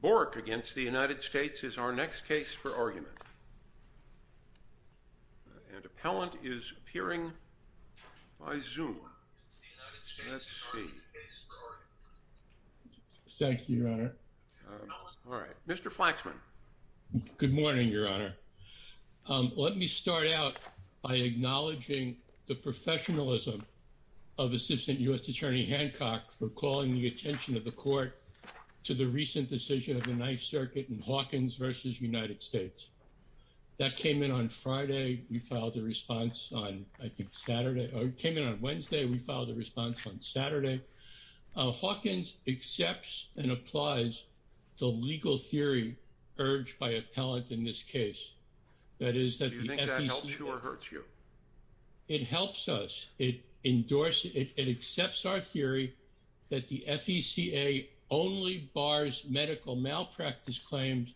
Bourke v. United States is our next case for argument, and an appellant is appearing by Zoom. Let's see. Thank you, Your Honor. Mr. Flaxman. Good morning, Your Honor. Let me start out by acknowledging the professionalism of Assistant U.S. Attorney Hancock for calling the attention of the Court to the recent decision of the Ninth Circuit in Hawkins v. United States. That came in on Friday. We filed a response on, I think, Saturday. It came in on Wednesday. We filed a response on Saturday. Hawkins accepts and applies the legal theory urged by appellant in this case. Do you think that helps you or hurts you? It helps us. It accepts our theory that the FECA only bars medical malpractice claims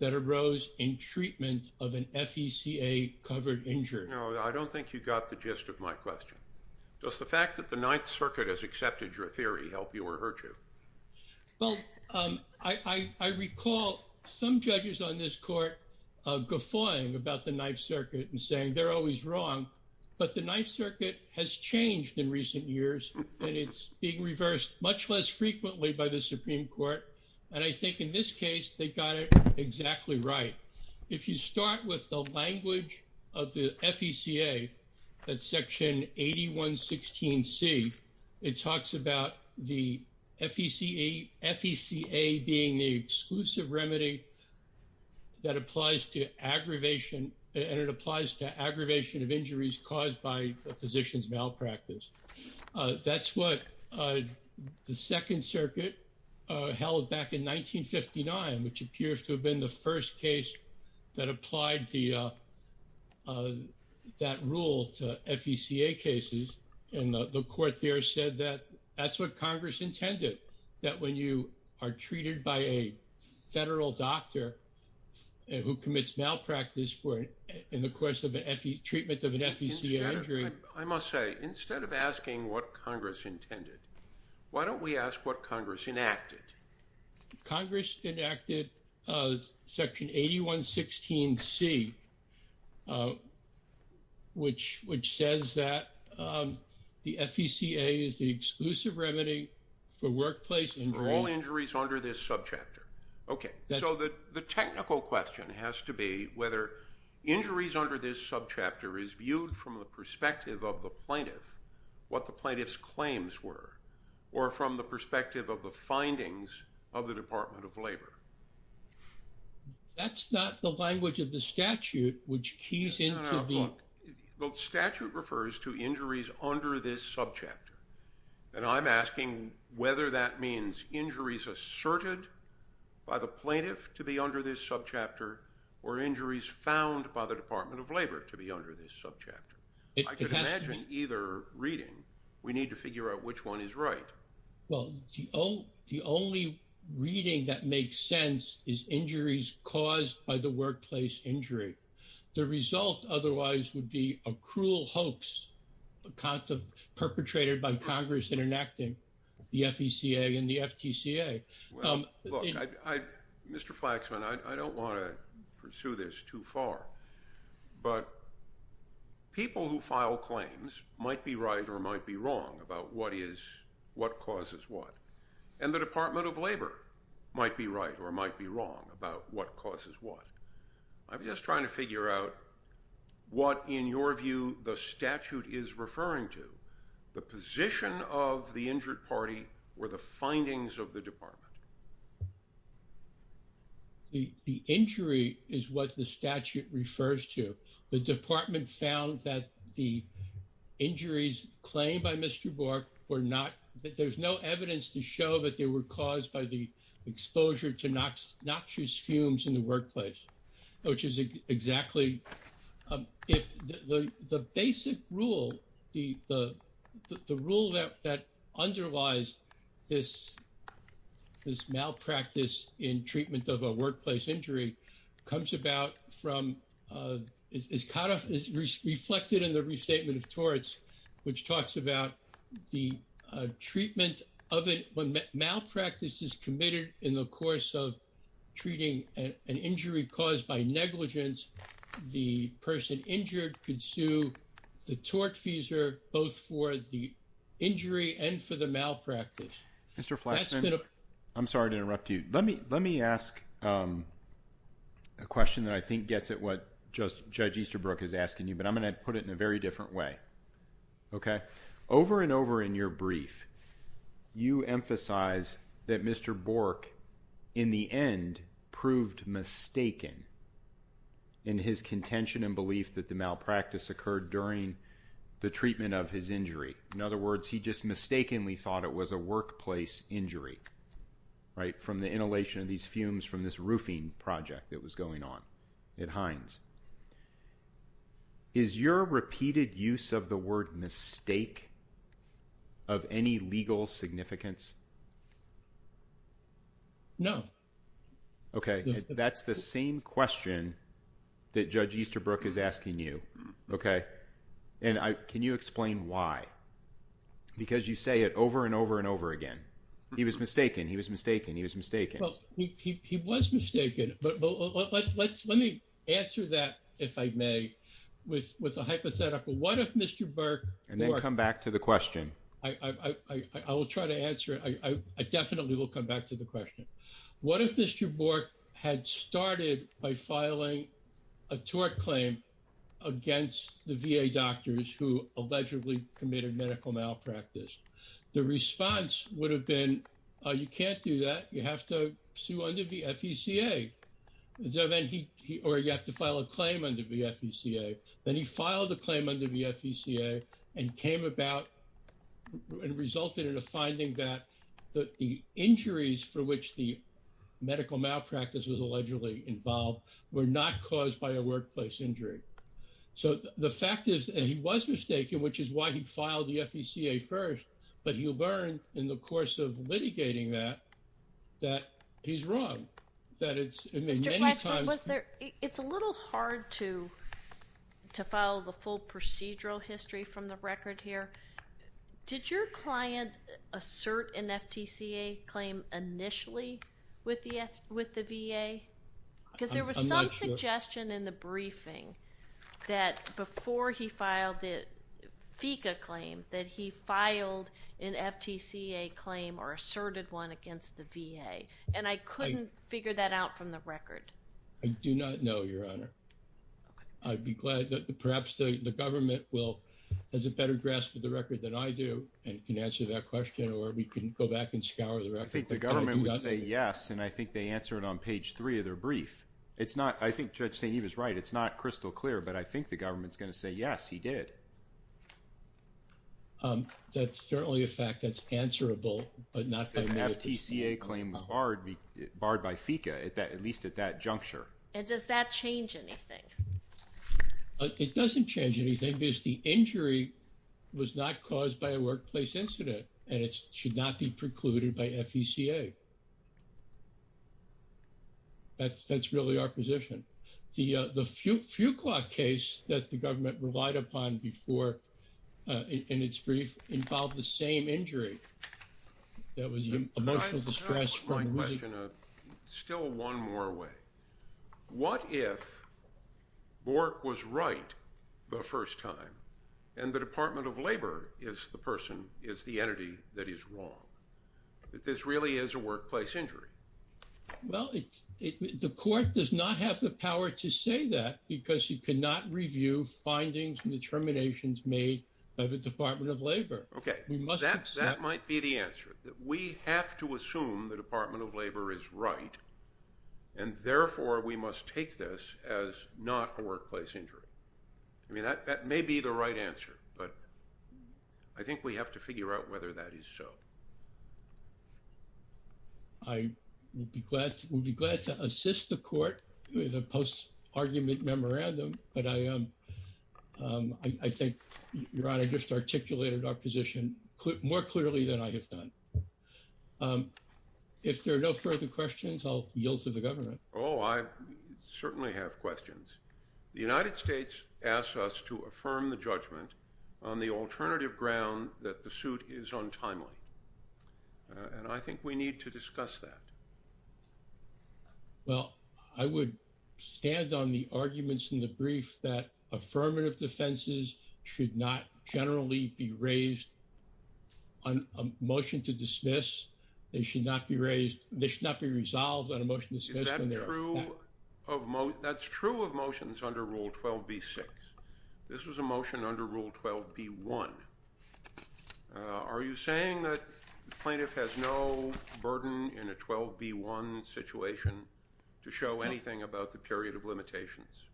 that arose in treatment of an FECA-covered injured. No, I don't think you got the gist of my question. Does the Some judges on this Court are guffawing about the Ninth Circuit and saying they're always wrong, but the Ninth Circuit has changed in recent years, and it's being reversed much less frequently by the Supreme Court, and I think in this case they got it exactly right. If you start with the language of the FECA, that's Section 8116C, it talks about the FECA being the exclusive remedy that applies to aggravation, and it applies to aggravation of injuries caused by a physician's malpractice. That's what the Second Circuit held back in 1959, which appears to have been the first case that applied that rule to FECA cases, and the Court there said that that's what Congress intended, that when you are treated by a federal doctor who commits malpractice in the course of a treatment of an FECA injury. I must say, instead of asking what Congress intended, why don't we ask what Congress enacted? Congress enacted Section 8116C, which says that the FECA is the exclusive remedy for workplace injuries. For all injuries under this subchapter. Okay, so the technical question has to be whether injuries under this subchapter is viewed from the perspective of the plaintiff, what the plaintiff's claims were, or from the perspective of the findings of the Department of Labor. That's not the language of the statute, which keys into the... No, no, no, look, the statute refers to injuries under this subchapter, and I'm asking whether that means injuries asserted by the plaintiff to be under this subchapter, or injuries found by the Department of Labor to be under this subchapter. It has to be... Well, the only reading that makes sense is injuries caused by the workplace injury. The result otherwise would be a cruel hoax perpetrated by Congress in enacting the FECA and the FTCA. Well, look, Mr. Flaxman, I don't want to pursue this too far, but people who file claims might be right or might be wrong about what causes what, and the Department of Labor might be right or might be wrong about what causes what. I'm just trying to figure out what, in your view, the statute is referring to. The position of the injured party or the findings of the department. The injury is what the statute refers to. The department found that the injuries claimed by Mr. Bork were not... There's no evidence to show that they were caused by the exposure to noxious fumes in the workplace, which is exactly... The basic rule, the rule that underlies this malpractice in treatment of a workplace injury comes about from... It's kind of reflected in the restatement of torts, which talks about the treatment of it. When malpractice is committed in the course of treating an injury caused by negligence, the person injured could sue the tortfeasor both for the injury and for the malpractice. Mr. Flaxman, I'm sorry to interrupt you. Let me ask a question that I think gets at what Judge Easterbrook is asking you, but I'm going to put it in a very different way. Over and over in your brief, you emphasize that Mr. Bork, in the end, proved mistaken in his contention and belief that the malpractice occurred during the treatment of his injury. In other words, he just mistakenly thought it was a workplace injury. From the inhalation of these fumes from this roofing project that was going on at Heinz. Is your repeated use of the word mistake of any legal significance? No. Okay. That's the same question that Judge Easterbrook is asking you, okay? And can you explain why? Because you say it over and over and over again. He was mistaken. He was mistaken. He was mistaken. Well, he was mistaken, but let me answer that, if I may, with a hypothetical. What if Mr. Bork- And then come back to the question. I will try to answer it. I definitely will come back to the question. What if Mr. Bork had started by filing a tort claim against the VA doctors who allegedly committed medical malpractice? The response would have been, oh, you can't do that. You have to sue under the FECA, or you have to file a claim under the FECA. Then he filed a claim under the FECA and came about and resulted in a finding that the injuries for which the medical malpractice was allegedly involved were not caused by a workplace injury. So the fact is, and he was mistaken, which is why he filed the FECA first, but he learned in the course of litigating that, that he's wrong. That it's- Mr. Fletcher, it's a little hard to file the full procedural history from the record here. Did your client assert an FTCA claim initially with the VA? I'm not sure. There was a suggestion in the briefing that before he filed the FECA claim, that he filed an FTCA claim or asserted one against the VA, and I couldn't figure that out from the record. I do not know, Your Honor. I'd be glad, perhaps the government will, has a better grasp of the record than I do and can answer that question, or we can go back and scour the record. I think the government would say yes, and I think they answer it on page three of their brief. It's not, I think Judge St. Eve is right. It's not crystal clear, but I think the government's going to say, yes, he did. That's certainly a fact that's answerable, but not by way of the- If an FTCA claim was barred by FECA, at least at that juncture. And does that change anything? It doesn't change anything because the injury was not caused by a workplace incident, and it should not be precluded by FECA. That's really our position. The Fuqua case that the government relied upon before in its brief involved the same injury that was emotional distress from losing- Can I ask my question still one more way? What if Bork was right the first time, and the Department of Labor is the person, is the entity that is wrong? That this really is a workplace injury? Well, the court does not have the power to say that because you cannot review findings and determinations made by the Department of Labor. Okay. We must accept- That might be the answer. We have to assume the Department of Labor is right, and therefore, we must take this as not a workplace injury. I mean, that may be the right answer, but I think we have to figure out whether that is so. I would be glad to assist the court with a post-argument memorandum, but I think Your Honor just articulated our position more clearly than I have done. If there are no further questions, I'll yield to the government. Oh, I certainly have questions. The United States asks us to affirm the judgment on the alternative ground that the suit is untimely, and I think we need to discuss that. Well, I would stand on the arguments in the brief that affirmative defenses should not generally be raised on a motion to dismiss. They should not be raised, they should not be resolved on a motion to dismiss when there is fact. Is that true of, that's true of motions under Rule 12b-6? This was a motion under Rule 12b-1. Are you saying that the plaintiff has no burden in a 12b-1 situation to show anything about the period of limitations?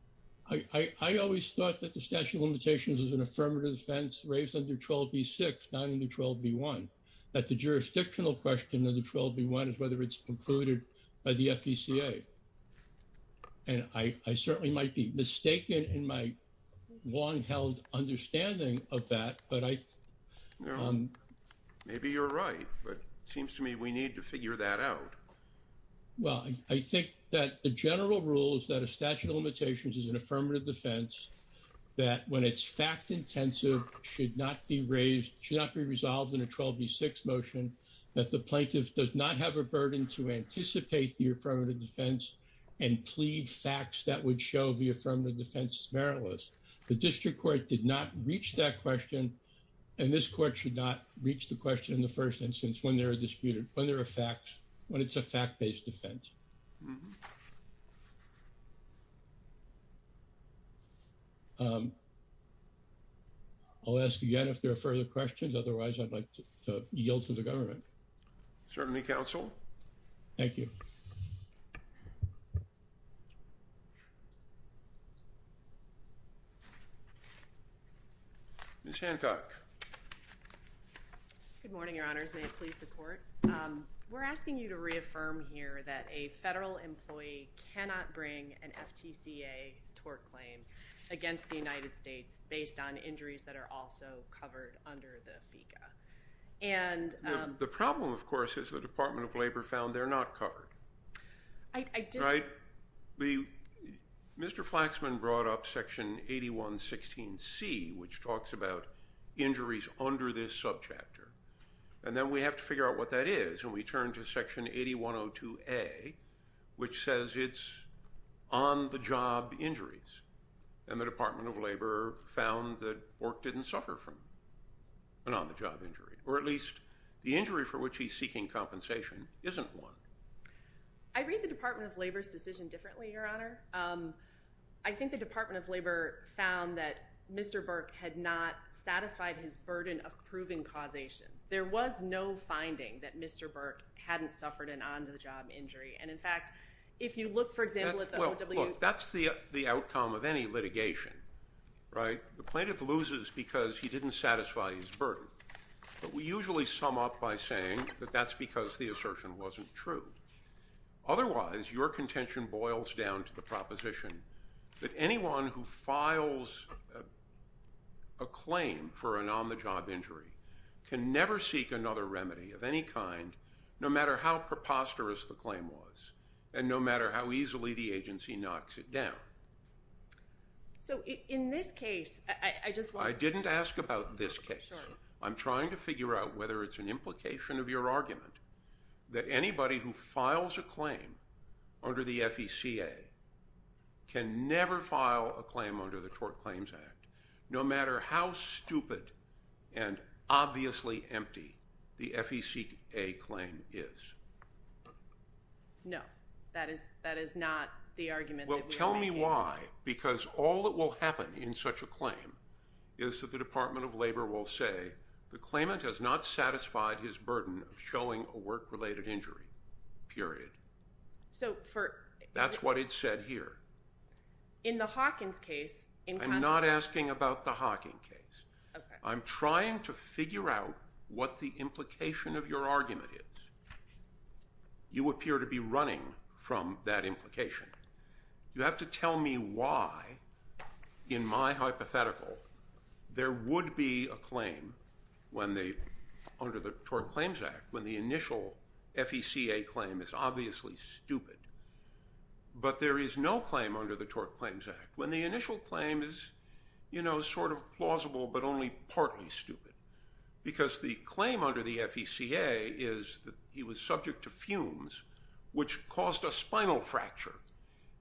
I always thought that the statute of limitations was an affirmative defense raised under 12b-6, not under 12b-1. That the jurisdictional question under 12b-1 is whether it's concluded by the FECA, and I certainly might be mistaken in my long-held understanding of that, but I... Well, maybe you're right, but it seems to me we need to figure that out. Well, I think that the general rule is that a statute of limitations is an affirmative defense, that when it's fact-intensive, should not be raised, should not be resolved in a 12b-6 motion, that the plaintiff does not have a burden to anticipate the affirmative defense and plead facts that would show the affirmative defense is meritless. The district court did not reach that question, and this court should not reach the question in the first instance when there are disputed, when there are facts, when it's a fact-based defense. I'll ask again if there are further questions, otherwise I'd like to yield to the government. Certainly, counsel. Thank you. Ms. Hancock. Good morning, your honors. May it please the court. We're asking you to reaffirm here that a federal employee cannot bring an FTCA tort claim against the United States based on injuries that are also covered under the FECA, and... The problem, of course, is the Department of Labor found they're not covered, right? Mr. Flaxman brought up Section 8116C, which talks about injuries under this subchapter, and then we have to figure out what that is, and we turn to Section 8102A, which says it's on-the-job injuries, and the Department of Labor found that Bork didn't suffer from an on-the-job injury, or at least the injury for which he's seeking compensation isn't one. I read the Department of Labor's decision differently, your honor. I think the Department of Labor found that Mr. Bork had not satisfied his burden of proven causation. There was no finding that Mr. Bork hadn't suffered an on-the-job injury, and in fact, if you look, for example, at the... Well, look, that's the outcome of any litigation, right? The plaintiff loses because he didn't satisfy his burden, but we usually sum up by saying that that's because the assertion wasn't true. Otherwise, your contention boils down to the proposition that anyone who files a claim for an on-the-job injury can never seek another remedy of any kind, no matter how preposterous the claim was, and no matter how easily the agency knocks it down. So, in this case, I just want... I didn't ask about this case. I'm trying to figure out whether it's an implication of your argument that anybody who files a claim under the FECA can never file a claim under the Tort Claims Act, no matter how stupid and obviously empty the FECA claim is. Tell me why, because all that will happen in such a claim is that the Department of Labor will say the claimant has not satisfied his burden of showing a work-related injury, period. So, for... That's what it said here. In the Hawkins case... I'm not asking about the Hawkins case. I'm trying to figure out what the implication of your argument is. You appear to be running from that implication. You have to tell me why, in my hypothetical, there would be a claim under the Tort Claims Act when the initial FECA claim is obviously stupid, but there is no claim under the Tort Claims Act when the initial claim is sort of plausible, but only partly stupid, because the claim under the FECA is that he was subject to fumes, which caused a spinal fracture.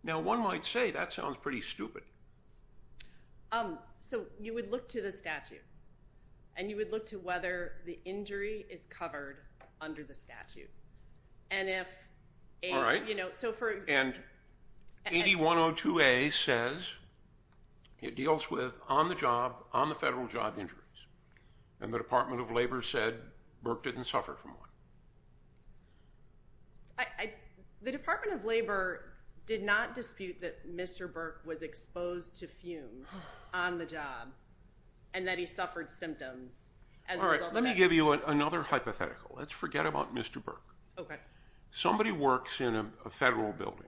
Now, one might say that sounds pretty stupid. You would look to the statute, and you would look to whether the injury is covered under the statute. All right. And if... So, for example... And 8102A says it deals with on-the-job, on-the-federal-job injuries, and the Department of Labor says Burke didn't suffer from one. The Department of Labor did not dispute that Mr. Burke was exposed to fumes on the job, and that he suffered symptoms as a result of that. All right. Let me give you another hypothetical. Let's forget about Mr. Burke. Somebody works in a federal building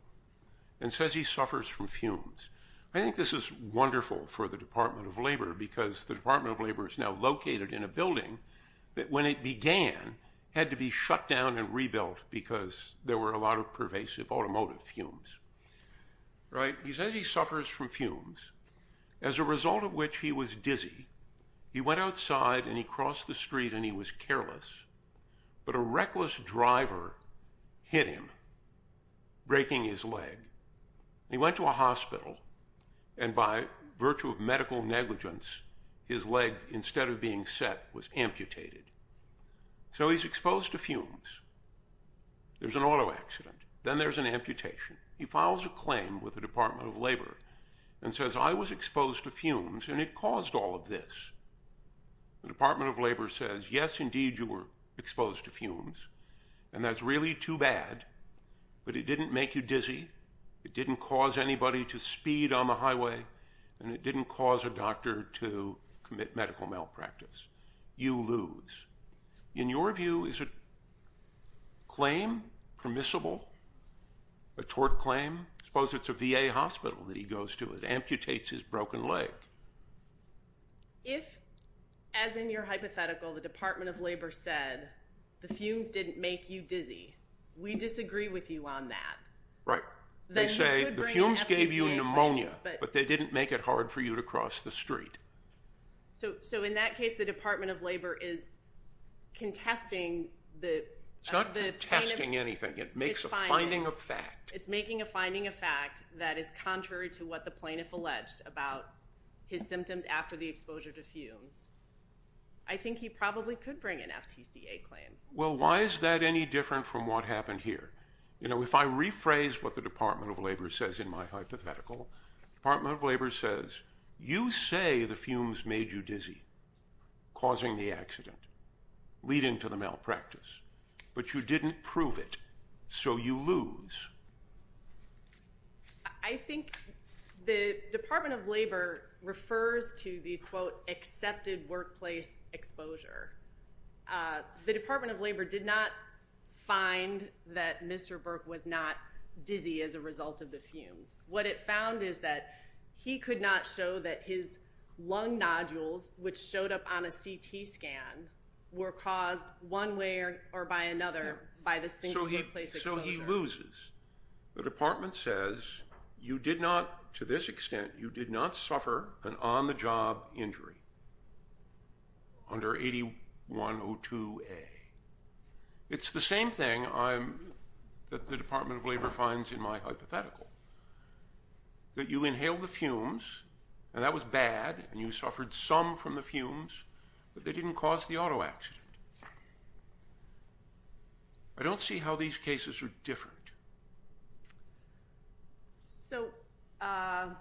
and says he suffers from fumes. I think this is wonderful for the Department of Labor because the Department of Labor is now located in a building that, when it began, had to be shut down and rebuilt because there were a lot of pervasive automotive fumes. Right? He says he suffers from fumes, as a result of which he was dizzy. He went outside, and he crossed the street, and he was careless, but a reckless driver hit him, breaking his leg. He went to a hospital, and by virtue of medical negligence, his leg, instead of being set, was amputated. So he's exposed to fumes. There's an auto accident. Then there's an amputation. He files a claim with the Department of Labor and says, I was exposed to fumes, and it caused all of this. The Department of Labor says, yes, indeed, you were exposed to fumes, and that's really too bad, but it didn't make you dizzy. It didn't cause anybody to speed on the highway, and it didn't cause a doctor to commit medical malpractice. You lose. In your view, is a claim permissible, a tort claim? Suppose it's a VA hospital that he goes to that amputates his broken leg. If, as in your hypothetical, the Department of Labor said, the fumes didn't make you dizzy, we disagree with you on that, then he could bring an FTA, but... They say, the fumes gave you pneumonia, but they didn't make it hard for you to cross the street. So in that case, the Department of Labor is contesting the... It's not contesting anything. It makes a finding of fact. It's making a finding of fact that is contrary to what the plaintiff alleged about his symptoms after the exposure to fumes. I think he probably could bring an FTCA claim. Well, why is that any different from what happened here? If I rephrase what the Department of Labor says in my hypothetical, the Department of Labor says, you say the fumes made you dizzy, causing the accident, leading to the malpractice, but you didn't prove it, so you lose. I think the Department of Labor refers to the, quote, accepted workplace exposure. The Department of Labor did not find that Mr. Burke was not dizzy as a result of the fumes. What it found is that he could not show that his lung nodules, which showed up on a CT scan, were caused one way or by another by the single workplace exposure. So he loses. The Department says, to this extent, you did not suffer an on-the-job injury under 8102A. It's the same thing that the Department of Labor finds in my hypothetical, that you inhaled the fumes, and that was bad, and you suffered some from the fumes, but they didn't cause the auto accident. I don't see how these cases are different. So I'm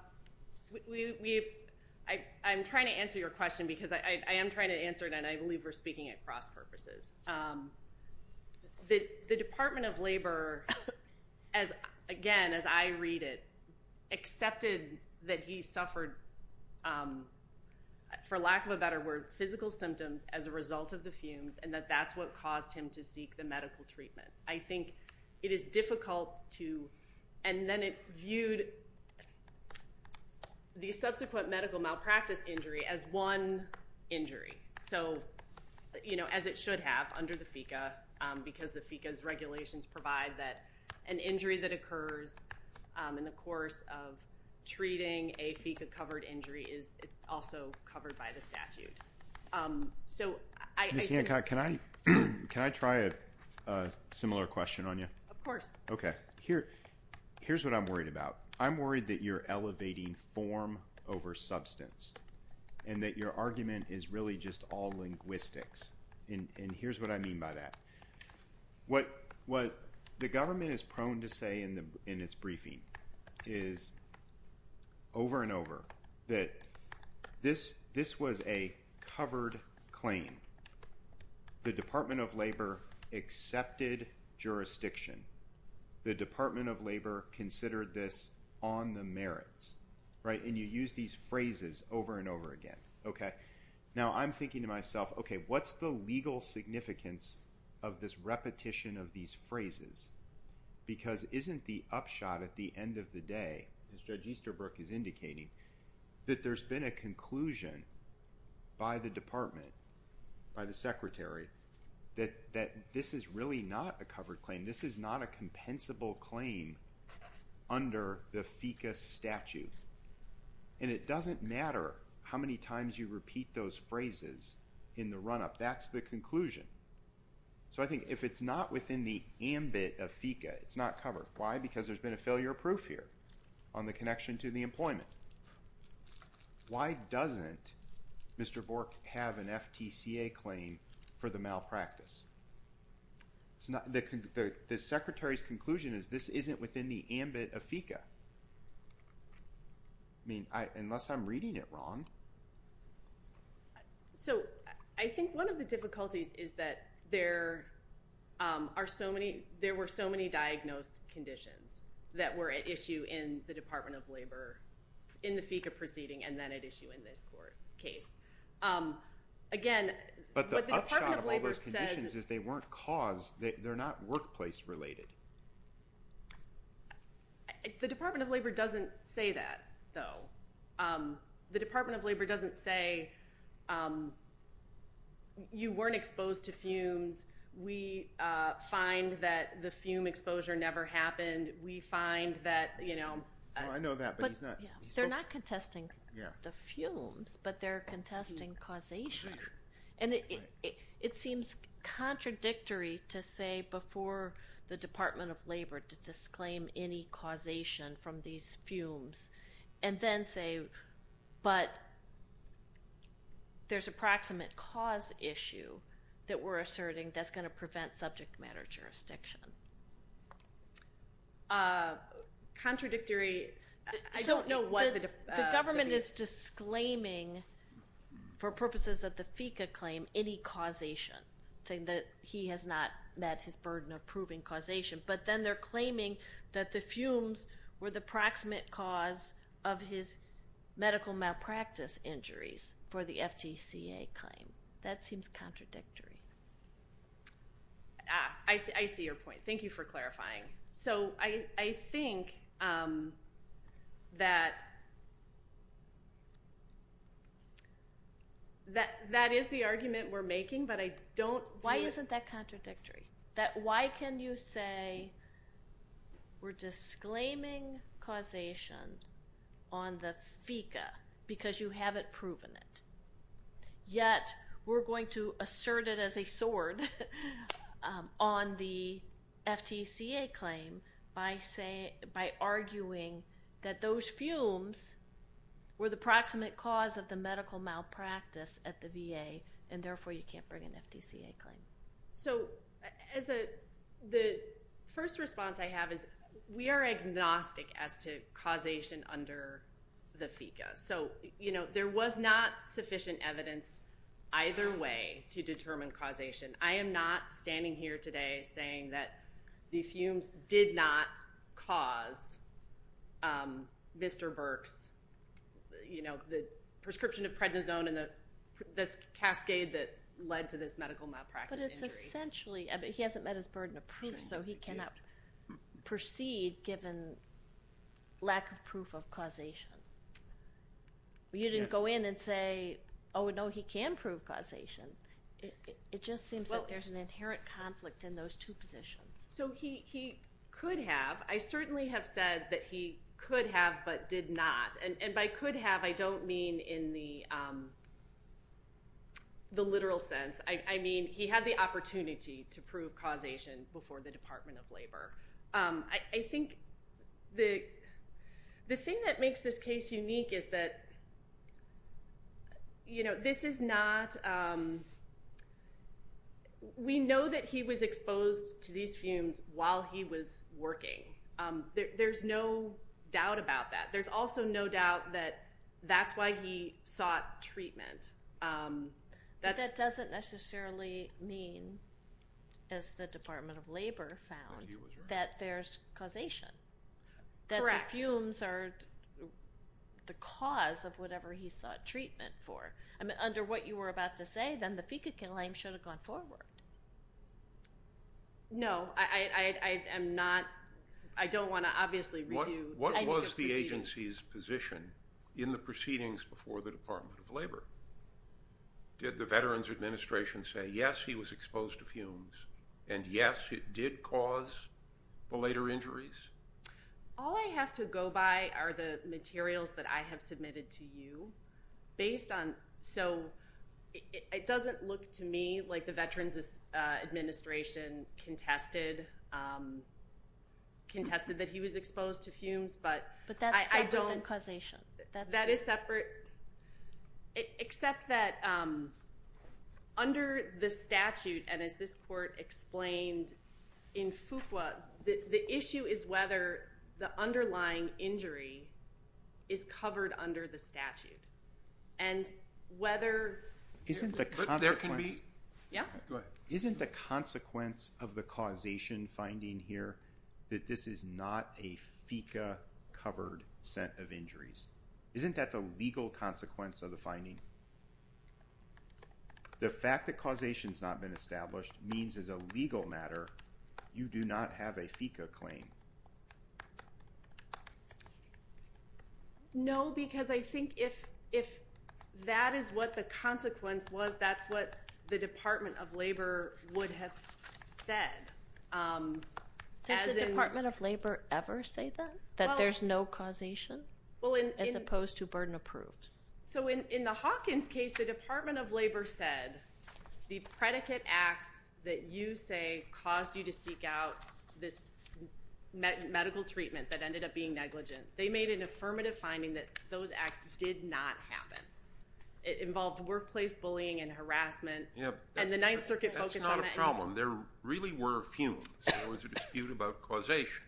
trying to answer your question because I am trying to answer it, and I believe we're speaking at cross-purposes. The Department of Labor, again, as I read it, accepted that he suffered, for lack of a better word, physical symptoms as a result of the fumes, and that that's what caused him to seek the medical treatment. I think it is difficult to, and then it viewed the subsequent medical malpractice injury as one injury, so, you know, as it should have under the FECA, because the FECA's regulations provide that an injury that occurs in the course of treating a FECA-covered injury is also covered by the statute. So I... Can I try a similar question on you? Of course. Okay. Here's what I'm worried about. I'm worried that you're elevating form over substance, and that your argument is really just all linguistics, and here's what I mean by that. What the government is prone to say in its briefing is, over and over, that this was a covered claim. The Department of Labor accepted jurisdiction. The Department of Labor considered this on the merits, right, and you use these phrases over and over again, okay? Now I'm thinking to myself, okay, what's the legal significance of this repetition of these phrases? Because isn't the upshot at the end of the day, as Judge Easterbrook is indicating, that there's been a conclusion by the Department, by the Secretary, that this is really not a covered claim. This is not a compensable claim under the FECA statute, and it doesn't matter how many times you repeat those phrases in the run-up. That's the conclusion. So I think if it's not within the ambit of FECA, it's not covered. Why? Because there's been a failure of proof here on the connection to the employment. Why doesn't Mr. Bork have an FTCA claim for the malpractice? The Secretary's conclusion is this isn't within the ambit of FECA. I mean, unless I'm reading it wrong. So I think one of the difficulties is that there are so many, there were so many diagnosed conditions that were at issue in the Department of Labor in the FECA proceeding and then at issue in this court case. Again, what the Department of Labor says is they weren't caused, they're not workplace related. The Department of Labor doesn't say that, though. The Department of Labor doesn't say, you weren't exposed to fumes. We find that the fume exposure never happened. We find that, you know. I know that, but he's not. They're not contesting the fumes. But they're contesting causation. And it seems contradictory to say before the Department of Labor to disclaim any causation from these fumes and then say, but there's approximate cause issue that we're asserting that's going to prevent subject matter jurisdiction. Contradictory, I don't know what the difference is. It's disclaiming for purposes of the FECA claim any causation, saying that he has not met his burden of proving causation. But then they're claiming that the fumes were the proximate cause of his medical malpractice injuries for the FTCA claim. That seems contradictory. Thank you for clarifying. So I think that that is the argument we're making, but I don't. Why isn't that contradictory? That why can you say we're disclaiming causation on the FECA because you haven't proven it? Yet, we're going to assert it as a sword on the FTCA claim by arguing that those fumes were the proximate cause of the medical malpractice at the VA, and therefore you can't bring an FTCA claim. So the first response I have is we are agnostic as to causation under the FECA. So there was not sufficient evidence either way to determine causation. I am not standing here today saying that the fumes did not cause Mr. Burke's prescription of prednisone and this cascade that led to this medical malpractice injury. But it's essentially, he hasn't met his burden of proof, so he cannot proceed given lack of proof of causation. You didn't go in and say, oh, no, he can prove causation. It just seems that there's an inherent conflict in those two positions. So he could have. I certainly have said that he could have but did not. And by could have, I don't mean in the literal sense. I mean, he had the opportunity to prove causation before the Department of Labor. I think the thing that makes this case unique is that this is not, we know that he was exposed to these fumes while he was working. There's no doubt about that. There's also no doubt that that's why he sought treatment. But that doesn't necessarily mean, as the Department of Labor found, that there's causation. That the fumes are the cause of whatever he sought treatment for. Under what you were about to say, then the FECA claim should have gone forward. No, I am not, I don't want to obviously redo. What was the agency's position in the proceedings before the Department of Labor? Did the Veterans Administration say, yes, he was exposed to fumes? And yes, it did cause the later injuries? All I have to go by are the materials that I have submitted to you based on, so it doesn't look to me like the Veterans Administration contested that he was exposed to fumes. But that's separate than causation. That is separate, except that under the statute, and as this court explained in FUCWA, the issue is whether the underlying injury is covered under the statute. And whether there can be, yeah, go ahead. Isn't the consequence of the causation finding here that this is not a FECA covered set of injuries? Isn't that the legal consequence of the finding? The fact that causation has not been established means as a legal matter, you do not have a FECA claim. No, because I think if that is what the consequence was, that's what the Department of Labor would have said. Does the Department of Labor ever say that, that there's no causation? As opposed to burden of proofs. So in the Hawkins case, the Department of Labor said, the predicate acts that you say caused you to seek out this medical treatment that ended up being negligent, they made an affirmative finding that those acts did not happen. It involved workplace bullying and harassment. And the Ninth Circuit focused on that. That's not a problem. There really were fumes. There was a dispute about causation.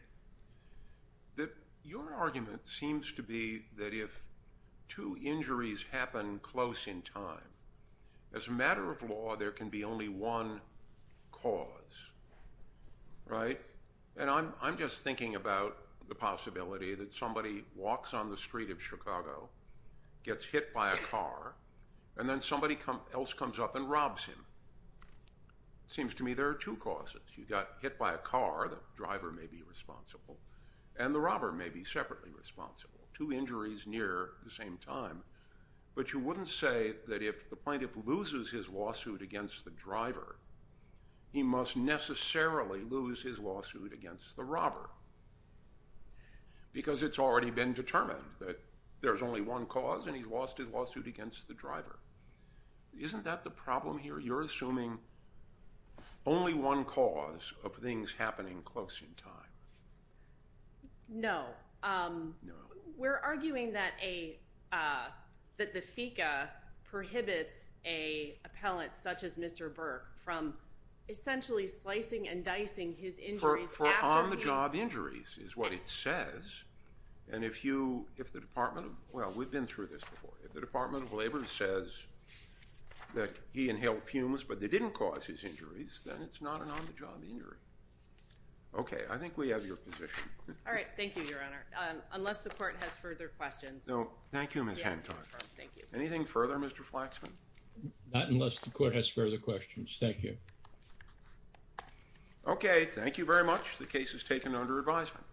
That your argument seems to be that if two injuries happen close in time, as a matter of law, there can be only one cause, right? And I'm just thinking about the possibility that somebody walks on the street of Chicago, gets hit by a car, and then somebody else comes up and robs him. Seems to me there are two causes. You got hit by a car, the driver may be responsible. And the robber may be separately responsible. Two injuries near the same time. But you wouldn't say that if the plaintiff loses his lawsuit against the driver, he must necessarily lose his lawsuit against the robber. Because it's already been determined that there's only one cause and he's lost his lawsuit against the driver. Isn't that the problem here? You're assuming only one cause of things happening close in time. No. No. We're arguing that the FECA prohibits an appellant such as Mr. Burke from essentially slicing and dicing his injuries after he... For on-the-job injuries, is what it says. And if you, if the Department of... Well, we've been through this before. If the Department of Labor says that he inhaled fumes, but they didn't cause his injuries, then it's not an on-the-job injury. Okay. I think we have your position. All right. Thank you, Your Honor. Unless the court has further questions. No. Thank you, Ms. Hancock. Anything further, Mr. Flaxman? Not unless the court has further questions. Thank you. Okay. Thank you very much. The case is taken under advisement.